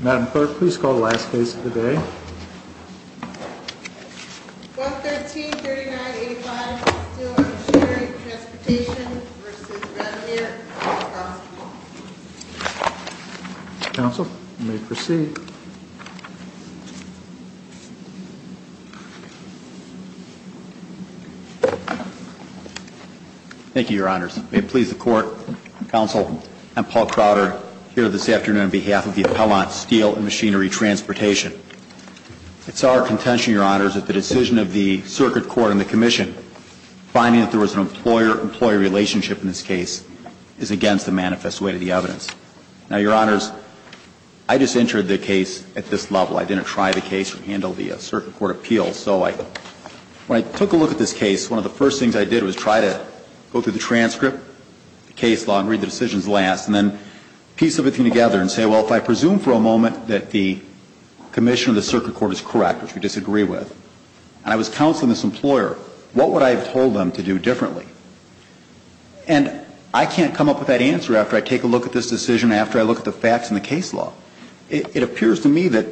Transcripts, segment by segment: Madam Clerk, please call the last case of the day. 12-13-39-85 Steel & Machinery Transportation, Inc. v. Rasmere Health Hospital Counsel, you may proceed. Thank you, Your Honors. May it please the Court, Counsel, and Paul Crowder here this afternoon on behalf of the Appellant, Steel & Machinery Transportation. It's our contention, Your Honors, that the decision of the Circuit Court and the Commission, finding that there was an employer-employee relationship in this case, is against the manifest way to the evidence. Now, Your Honors, I just entered the case at this level. I didn't try the case or handle the Circuit Court appeals. So when I took a look at this case, one of the first things I did was try to go through the transcript, the case law, and read the decisions last, and then piece everything together and say, well, if I presume for a moment that the Commission or the Circuit Court is correct, which we disagree with, and I was counseling this employer, what would I have told them to do differently? And I can't come up with that answer after I take a look at this decision, after I look at the facts in the case law. It appears to me that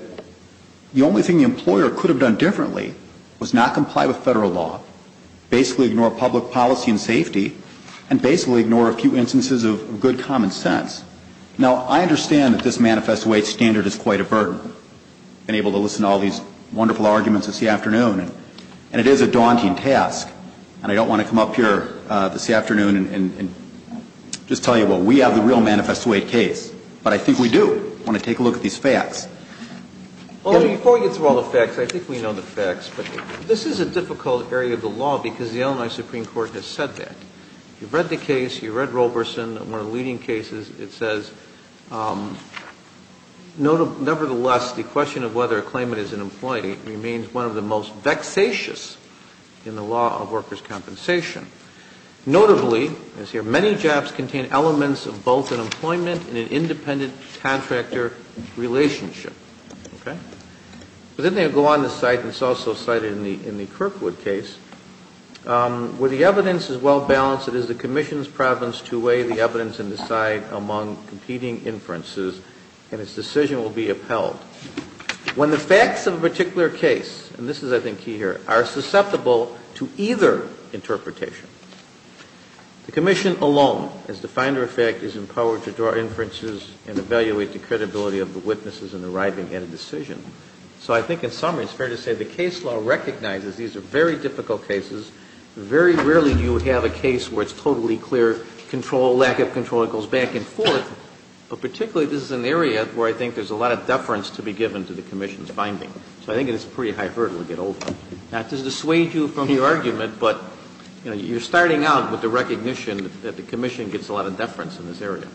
the only thing the employer could have done differently was not comply with Federal law, basically ignore public policy and safety, and basically ignore a few instances of good common sense. Now, I understand that this manifest way standard is quite a burden. I've been able to listen to all these wonderful arguments this afternoon, and it is a daunting task. And I don't want to come up here this afternoon and just tell you, well, we have the real manifest way case. But I think we do. I want to take a look at these facts. Before we get through all the facts, I think we know the facts, but this is a difficult area of the law because the Illinois Supreme Court has said that. You've read the case. You've read Roberson. One of the leading cases, it says, nevertheless, the question of whether a claimant is unemployed remains one of the most vexatious in the law of workers' compensation. Notably, as here, many jobs contain elements of both unemployment and an independent contractor relationship. Okay? But then they go on to cite, and it's also cited in the Kirkwood case, where the evidence is well balanced, it is the commission's province to weigh the evidence and decide among competing inferences, and its decision will be upheld. When the facts of a particular case, and this is, I think, key here, are susceptible to either interpretation, the commission alone, as defined in effect, is empowered to draw inferences and evaluate the credibility of the witnesses in arriving at a decision. So I think, in summary, it's fair to say the case law recognizes these are very difficult cases. Very rarely do you have a case where it's totally clear control, lack of control, it goes back and forth. But particularly, this is an area where I think there's a lot of deference to be given to the commission's finding. So I think it's a pretty high hurdle to get over. Not to dissuade you from your argument, but you're starting out with the recognition that the commission gets a lot of deference in this area.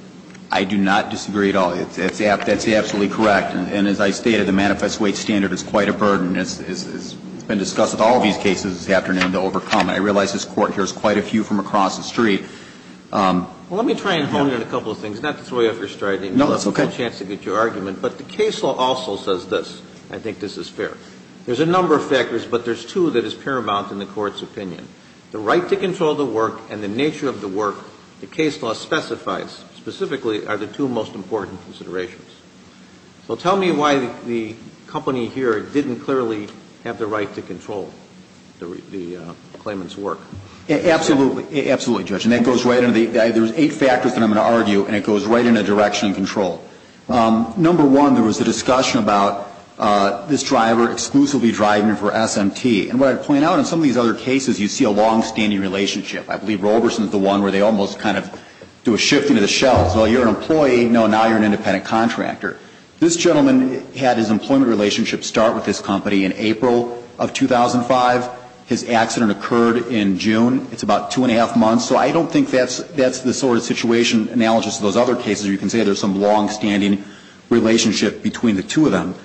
I do not disagree at all. That's absolutely correct. And as I stated, the manifest weight standard is quite a burden. It's been discussed with all of these cases this afternoon to overcome. I realize this Court hears quite a few from across the street. Well, let me try and hone in a couple of things. Not to throw you off your stride. No, that's okay. Not to give you a chance to get your argument. But the case law also says this, and I think this is fair. There's a number of factors, but there's two that is paramount in the Court's opinion. The right to control the work and the nature of the work the case law specifies specifically are the two most important considerations. So tell me why the company here didn't clearly have the right to control the claimant's work. Absolutely. Absolutely, Judge. And that goes right into the – there's eight factors that I'm going to argue, and it goes right into direction and control. Number one, there was a discussion about this driver exclusively driving for SMT. And what I'd point out in some of these other cases, you see a longstanding relationship. I believe Roberson is the one where they almost kind of do a shift into the shelves. Well, you're an employee. No, now you're an independent contractor. This gentleman had his employment relationship start with this company in April of 2005. His accident occurred in June. It's about two and a half months. So I don't think that's the sort of situation analogous to those other cases, where you can say there's some longstanding relationship between the two of them.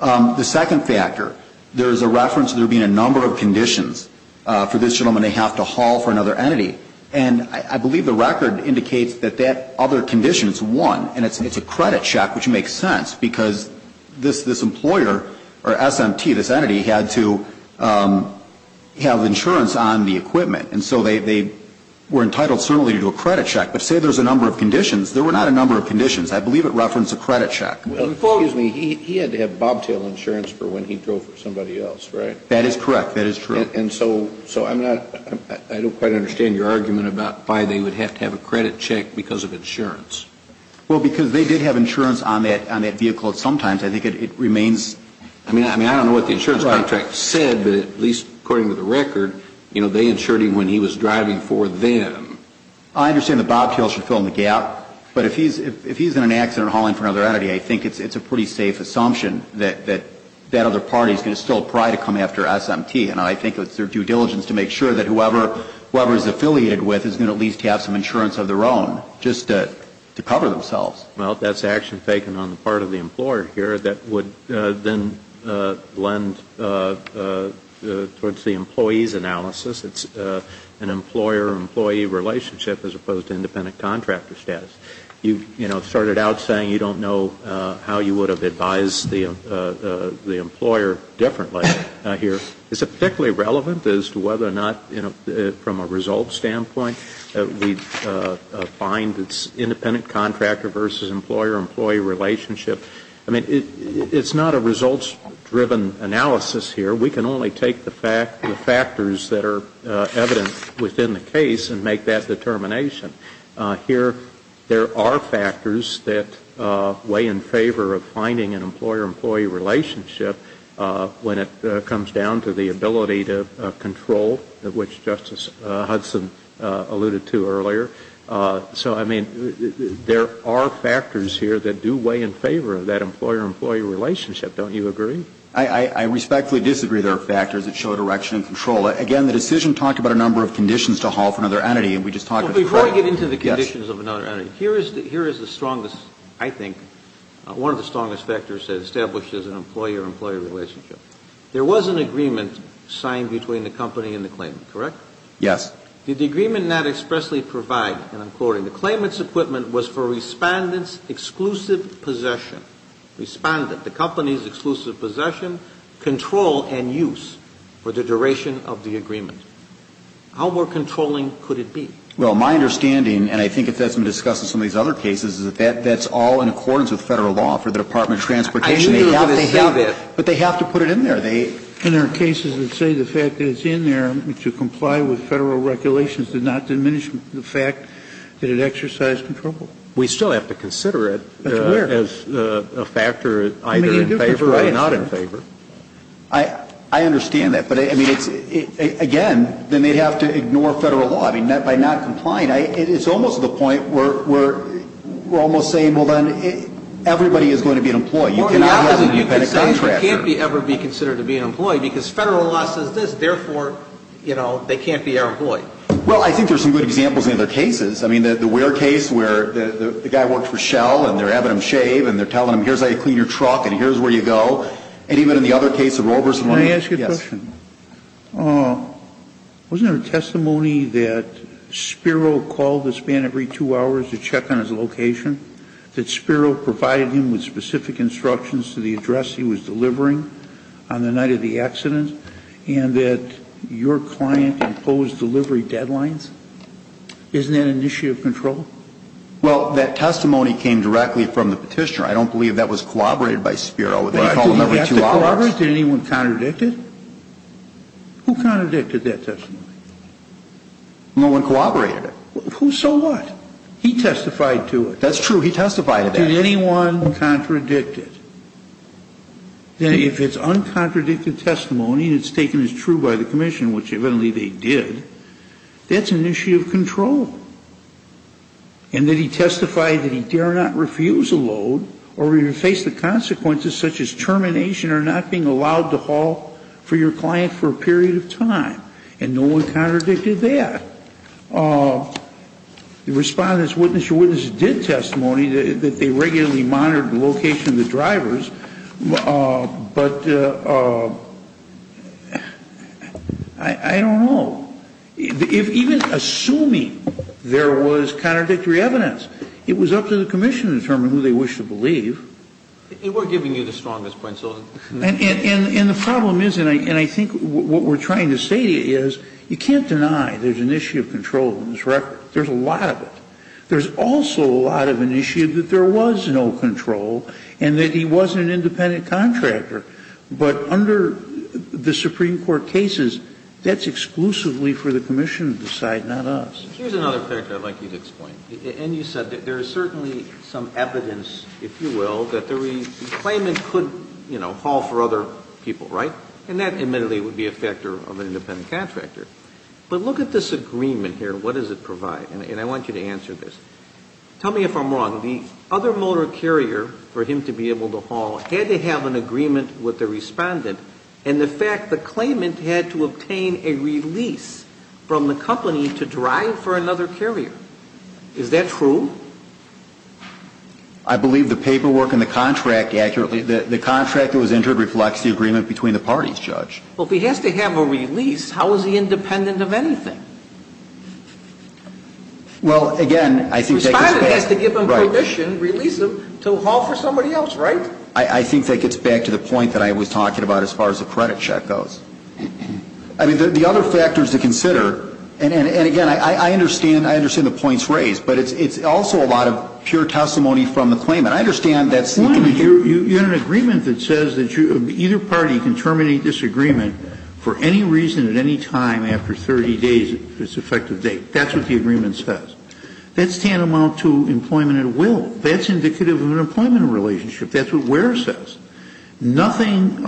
The second factor, there's a reference to there being a number of conditions for this gentleman. They have to haul for another entity. And I believe the record indicates that that other condition is one, and it's a credit check, which makes sense, because this employer, or SMT, this entity, had to have insurance on the equipment. And so they were entitled certainly to do a credit check. But say there's a number of conditions. There were not a number of conditions. I believe it referenced a credit check. Well, he had to have bobtail insurance for when he drove for somebody else, right? That is correct. That is true. And so I'm not, I don't quite understand your argument about why they would have to have a credit check because of insurance. Well, because they did have insurance on that vehicle at some times. I think it remains. I mean, I don't know what the insurance contract said, but at least according to the record, you know, they insured him when he was driving for them. I understand the bobtail should fill in the gap. But if he's in an accident hauling for another entity, I think it's a pretty safe assumption that that other party is going to still probably come after SMT. And I think it's their due diligence to make sure that whoever is affiliated with is going to at least have some insurance of their own just to cover themselves. Well, that's action taken on the part of the employer here that would then lend towards the employee's analysis. It's an employer-employee relationship as opposed to independent contractor status. You, you know, started out saying you don't know how you would have advised the employer differently here. Is it particularly relevant as to whether or not, you know, from a result standpoint, we find it's independent contractor versus employer-employee relationship? I mean, it's not a results-driven analysis here. We can only take the factors that are evident within the case and make that determination. Here there are factors that weigh in favor of finding an employer-employee relationship when it comes down to the ability to control, which Justice Hudson alluded to earlier. So, I mean, there are factors here that do weigh in favor of that employer-employee relationship. Don't you agree? I respectfully disagree there are factors that show direction and control. Again, the decision talked about a number of conditions to haul for another entity, and we just talked about that. Before we get into the conditions of another entity, here is the strongest, I think, one of the strongest factors that establishes an employer-employee relationship. There was an agreement signed between the company and the claimant, correct? Yes. Did the agreement not expressly provide, and I'm quoting, the claimant's equipment was for Respondent's exclusive possession. Respondent, the company's exclusive possession, control and use for the duration of the agreement. How more controlling could it be? Well, my understanding, and I think it's been discussed in some of these other cases, is that that's all in accordance with Federal law for the Department of Transportation. I knew they would say that. But they have to put it in there. And there are cases that say the fact that it's in there to comply with Federal regulations did not diminish the fact that it exercised control. We still have to consider it as a factor either in favor or not in favor. I understand that. But, I mean, again, then they'd have to ignore Federal law. I mean, by not complying, it's almost to the point where we're almost saying, well, then, everybody is going to be an employee. You cannot have an independent contractor. You could say it can't ever be considered to be an employee because Federal law says this. Therefore, you know, they can't be our employee. Well, I think there's some good examples in other cases. I mean, the Ware case where the guy worked for Shell, and they're having him shave, and they're telling him, here's how you clean your truck, and here's where you go. And even in the other case of Roe versus Lane. Can I ask you a question? Yes. Wasn't there a testimony that Spiro called this man every two hours to check on his location, that Spiro provided him with specific instructions to the address he was delivering on the night of the accident, and that your client imposed delivery deadlines? Isn't that an issue of control? Well, that testimony came directly from the Petitioner. I don't believe that was corroborated by Spiro. They called him every two hours. Did anyone contradict it? Who contradicted that testimony? No one corroborated it. So what? He testified to it. That's true. He testified to that. Did anyone contradict it? If it's uncontradicted testimony, and it's taken as true by the Commission, which evidently they did, that's an issue of control. And that he testified that he dare not refuse a load or even face the consequences such as termination or not being allowed to haul for your client for a period of time. And no one contradicted that. Respondents, witness to witness, did testimony that they regularly monitored the location of the drivers. But I don't know. Even assuming there was contradictory evidence, it was up to the Commission to determine who they wished to believe. We're giving you the strongest point. And the problem is, and I think what we're trying to say is, you can't deny there's an issue of control in this record. There's a lot of it. There's also a lot of an issue that there was no control and that he was an independent contractor. But under the Supreme Court cases, that's exclusively for the Commission to decide, not us. Here's another factor I'd like you to explain. And you said that there is certainly some evidence, if you will, that the claimant could, you know, haul for other people, right? And that, admittedly, would be a factor of an independent contractor. But look at this agreement here. What does it provide? And I want you to answer this. Tell me if I'm wrong. The other motor carrier for him to be able to haul had to have an agreement with the respondent and the fact the claimant had to obtain a release from the company to drive for another carrier. Is that true? I believe the paperwork in the contract accurately, the contract that was entered reflects the agreement between the parties, Judge. Well, if he has to have a release, how is he independent of anything? Well, again, I think that gets back to the point that I was talking about as far as the credit check goes. I mean, the other factors to consider, and, again, I understand the points raised, but it's also a lot of pure testimony from the claimant. I understand that's the agreement. You have an agreement that says that either party can terminate this agreement for any reason at any time after 30 days, if it's an effective date. That's what the agreement says. That's tantamount to employment at will. That's indicative of an employment relationship. That's what WER says. Nothing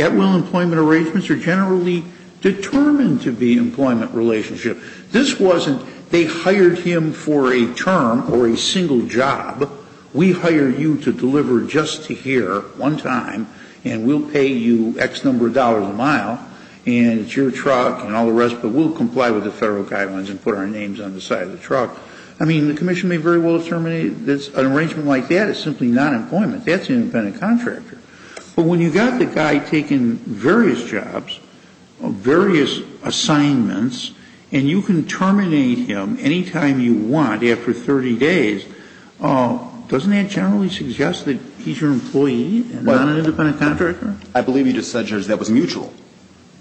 at will employment arrangements are generally determined to be employment relationship. This wasn't they hired him for a term or a single job. We hire you to deliver just to here one time, and we'll pay you X number of dollars a mile, and it's your truck and all the rest, but we'll comply with the Federal guidelines and put our names on the side of the truck. I mean, the Commission may very well have terminated this. An arrangement like that is simply not employment. That's an independent contractor. But when you've got the guy taking various jobs, various assignments, and you can terminate him any time you want after 30 days, doesn't that generally suggest that he's your employee and not an independent contractor? I believe you just said, Judge, that was mutual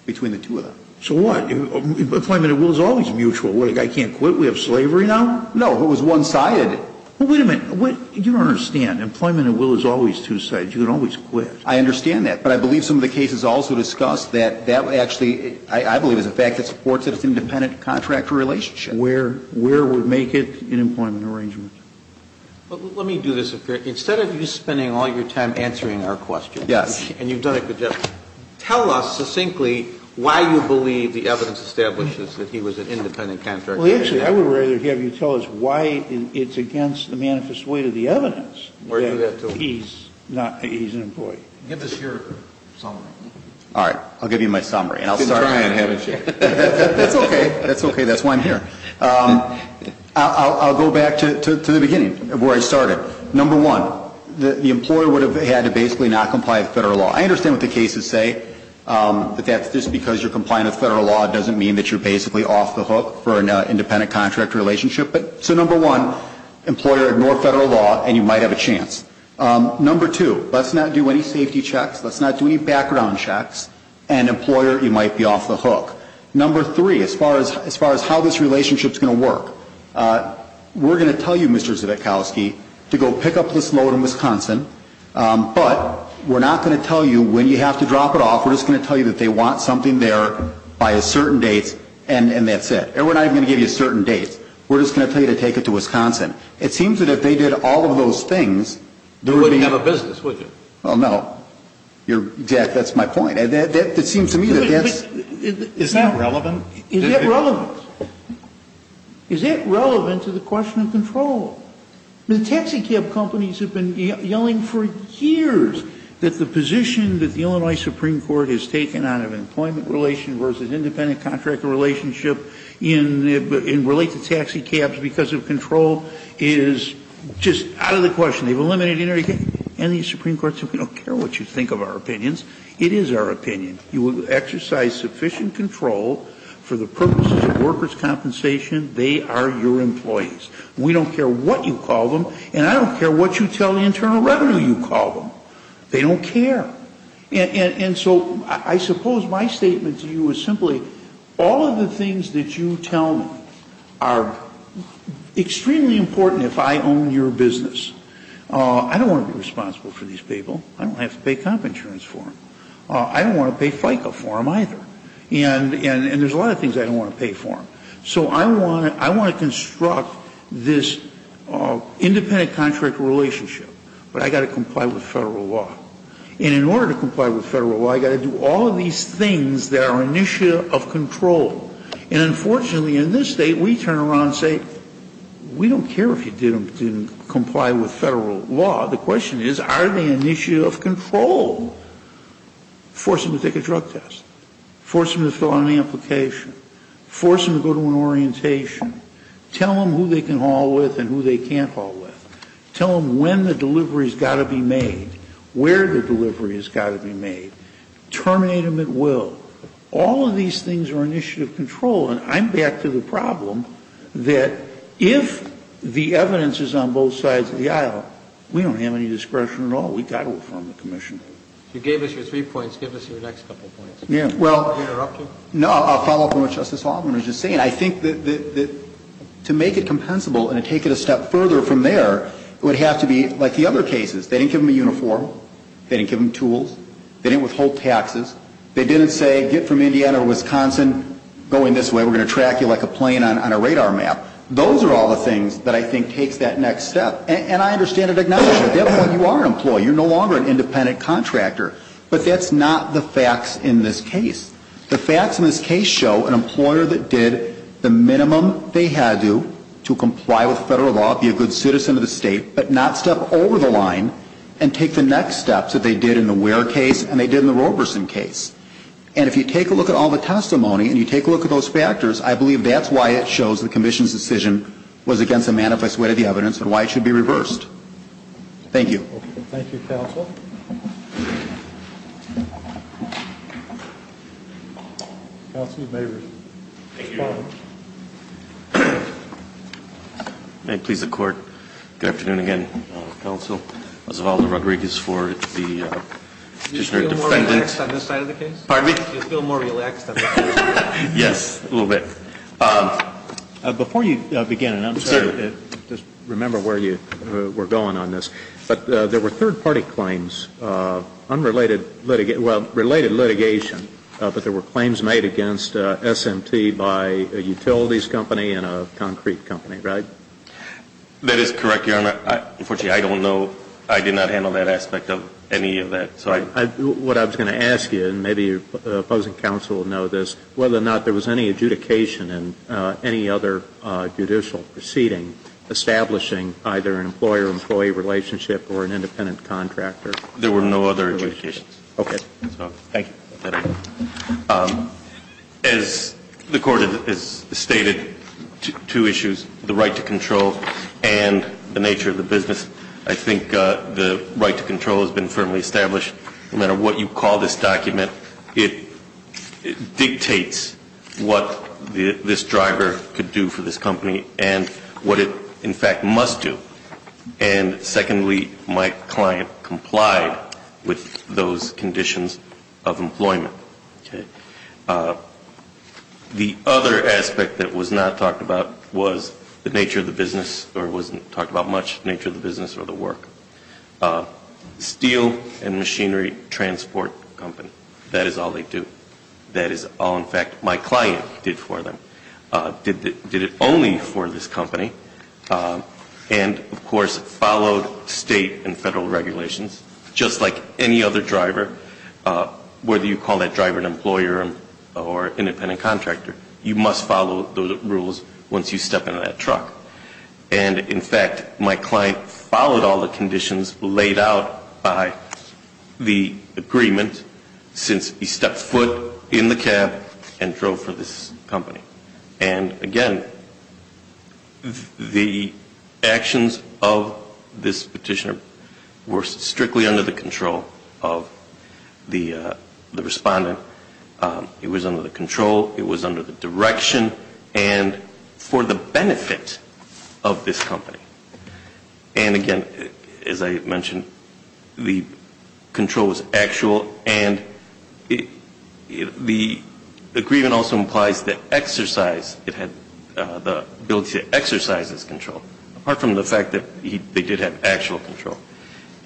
between the two of them. So what? Employment at will is always mutual. What, the guy can't quit? We have slavery now? No. It was one-sided. Well, wait a minute. You don't understand. Employment at will is always two-sided. You can always quit. I understand that. But I believe some of the cases also discuss that that actually, I believe, is a fact that supports an independent contractor relationship. Where would make it an employment arrangement? Let me do this. Instead of you spending all your time answering our questions, and you've done it good, tell us succinctly why you believe the evidence establishes that he was an independent contractor. Well, actually, I would rather have you tell us why it's against the manifest weight of the evidence that he's not, he's an employee. Give us your summary. All right. I'll give you my summary. You've been trying, haven't you? That's okay. That's okay. That's why I'm here. I'll go back to the beginning of where I started. Number one, the employer would have had to basically not comply with Federal I understand what the cases say, that just because you're complying with Federal law doesn't mean that you're basically off the hook for an independent contractor relationship. So, number one, employer, ignore Federal law, and you might have a chance. Number two, let's not do any safety checks. Let's not do any background checks. And, employer, you might be off the hook. Number three, as far as how this relationship is going to work, we're going to tell you, Mr. Zivitkowski, to go pick up this load in Wisconsin, but we're not going to tell you when you have to drop it off. We're just going to tell you that they want something there by a certain date, and that's it. And we're not even going to give you a certain date. We're just going to tell you to take it to Wisconsin. It seems that if they did all of those things, they were going to get it. You wouldn't have a business, would you? Well, no. That's my point. It seems to me that that's... Is that relevant? Is that relevant? Is that relevant to the question of control? The taxicab companies have been yelling for years that the position that the Illinois Supreme Court has taken on an employment relation versus independent contract relationship and relate to taxicabs because of control is just out of the question. They've eliminated everything. And the Supreme Court said we don't care what you think of our opinions. It is our opinion. You will exercise sufficient control for the purposes of workers' compensation. They are your employees. We don't care what you call them, and I don't care what you tell the internal revenue you call them. They don't care. And so I suppose my statement to you is simply all of the things that you tell me are extremely important if I own your business. I don't want to be responsible for these people. I don't have to pay comp insurance for them. I don't want to pay FICA for them either. And there's a lot of things I don't want to pay for them. So I want to construct this independent contract relationship, but I've got to comply with Federal law. And in order to comply with Federal law, I've got to do all of these things that are an issue of control. And unfortunately, in this State, we turn around and say, we don't care if you didn't comply with Federal law. The question is, are they an issue of control? Force them to take a drug test. Force them to fill out an application. Force them to go to an orientation. Tell them who they can haul with and who they can't haul with. Tell them when the delivery has got to be made. Where the delivery has got to be made. Terminate them at will. All of these things are an issue of control. And I'm back to the problem that if the evidence is on both sides of the aisle, we don't have any discretion at all. We've got to affirm the commission. If you gave us your three points, give us your next couple of points. Well, I'll follow up on what Justice Altman was just saying. I think that to make it compensable and to take it a step further from there, it would have to be like the other cases. They didn't give them a uniform. They didn't give them tools. They didn't withhold taxes. They didn't say get from Indiana to Wisconsin going this way. We're going to track you like a plane on a radar map. Those are all the things that I think takes that next step. And I understand and acknowledge that at that point you are an employee. You're no longer an independent contractor. But that's not the facts in this case. The facts in this case show an employer that did the minimum they had to do to comply with federal law, be a good citizen of the state, but not step over the line and take the next steps that they did in the Ware case and they did in the Roberson case. And if you take a look at all the testimony and you take a look at those factors, I believe that's why it shows the commission's decision was against a manifest way of the evidence and why it should be reversed. Thank you. Thank you, counsel. Counsel, you may respond. May it please the court, good afternoon again, counsel. Osvaldo Rodriguez for the petitioner defendant. Do you feel more relaxed on this side of the case? Pardon me? Do you feel more relaxed on this side of the case? Yes, a little bit. Before you begin, and I'm sorry to just remember where you were going on this, but there were third-party claims, unrelated litigation, well, related litigation, but there were claims made against SMT by a utilities company and a concrete company, right? That is correct, Your Honor. Unfortunately, I don't know. I did not handle that aspect of any of that. What I was going to ask you, and maybe the opposing counsel will know this, whether or not there was any adjudication in any other judicial proceeding establishing either an employer employee relationship or an independent contractor? There were no other adjudications. Okay. Thank you. As the Court has stated, two issues, the right to control and the nature of the business. I think the right to control has been firmly established. No matter what you call this document, it dictates what this driver could do for this company and what it, in fact, must do. And secondly, my client complied with those conditions of employment. The other aspect that was not talked about was the nature of the business or wasn't talked about much, nature of the business or the work. Steel and machinery transport company, that is all they do. That is all, in fact, my client did for them. Did it only for this company. And, of course, followed state and federal regulations. Just like any other driver, whether you call that driver an employer or independent contractor, you must follow those rules once you step into that truck. And, in fact, my client followed all the conditions laid out by the agreement since he stepped foot in the cab and drove for this company. And, again, the actions of this petitioner were strictly under the control of the respondent. It was under the control. It was under the direction and for the benefit of this company. And, again, as I mentioned, the control was actual and the agreement also implies the exercise, the ability to exercise this control, apart from the fact that they did have actual control.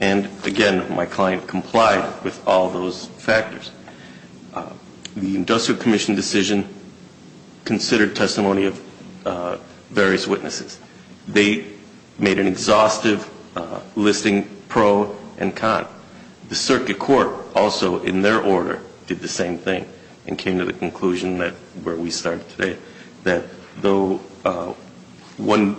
And, again, my client complied with all those factors. The Industrial Commission decision considered testimony of various witnesses. They made an exhaustive listing pro and con. The circuit court also, in their order, did the same thing and came to the conclusion where we started today, that though one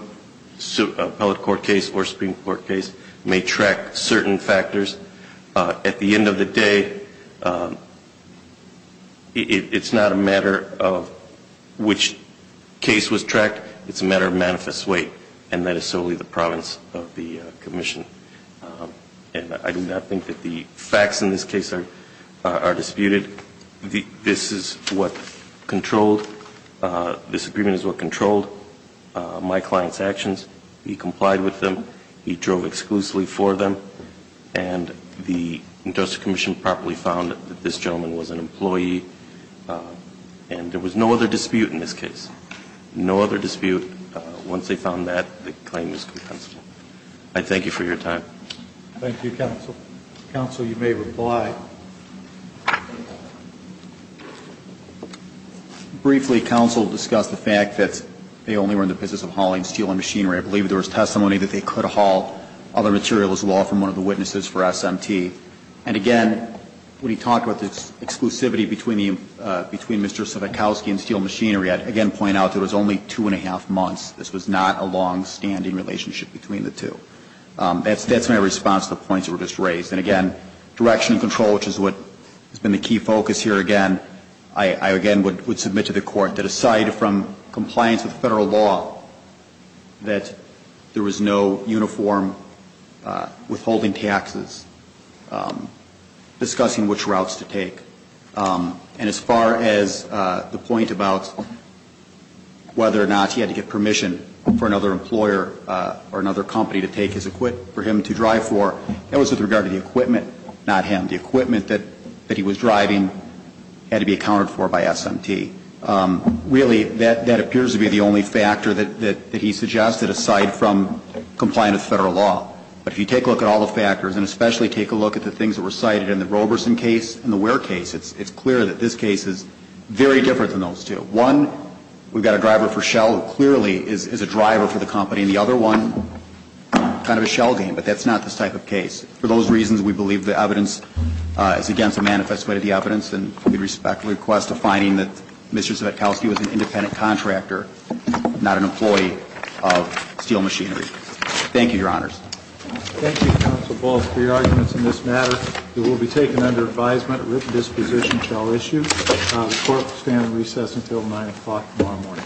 appellate court case or Supreme Court case may track certain factors, at the end of the day, it's not a matter of which case was tracked. It's a matter of manifest weight, and that is solely the province of the commission. And I do not think that the facts in this case are disputed. This is what controlled, this agreement is what controlled my client's actions. He complied with them. He drove exclusively for them. And the Industrial Commission properly found that this gentleman was an employee and there was no other dispute in this case. No other dispute. Once they found that, the claim is compensable. I thank you for your time. Thank you, counsel. Counsel, you may reply. Briefly, counsel discussed the fact that they only were in the business of hauling steel and machinery. I believe there was testimony that they could haul other materials as well from one of the witnesses for SMT. And, again, when he talked about the exclusivity between Mr. Sivitkowsky and steel machinery, I'd, again, point out that it was only two and a half months. This was not a longstanding relationship between the two. That's my response to the points that were just raised. And, again, direction and control, which has been the key focus here, again, I, again, would submit to the Court that aside from compliance with Federal law, that there was no uniform withholding taxes, discussing which routes to take. And as far as the point about whether or not he had to get permission for another employer or another company to take his equipment for him to drive for, that was with regard to the equipment, not him. The equipment that he was driving had to be accounted for by SMT. Really, that appears to be the only factor that he suggested aside from compliance with Federal law. But if you take a look at all the factors, and especially take a look at the things that were cited in the Roberson case and the Ware case, it's clear that this case is very different than those two. One, we've got a driver for Shell, who clearly is a driver for the company. And the other one, kind of a shell game. But that's not this type of case. For those reasons, we believe the evidence is against the manifest way of the evidence. And we respectfully request a finding that Mr. Sivitkowsky was an independent contractor, not an employee of steel machinery. Thank you, Your Honors. Thank you, Counsel Ball, for your arguments in this matter. It will be taken under advisement. A written disposition shall issue. The court will stand in recess until 9 o'clock tomorrow morning.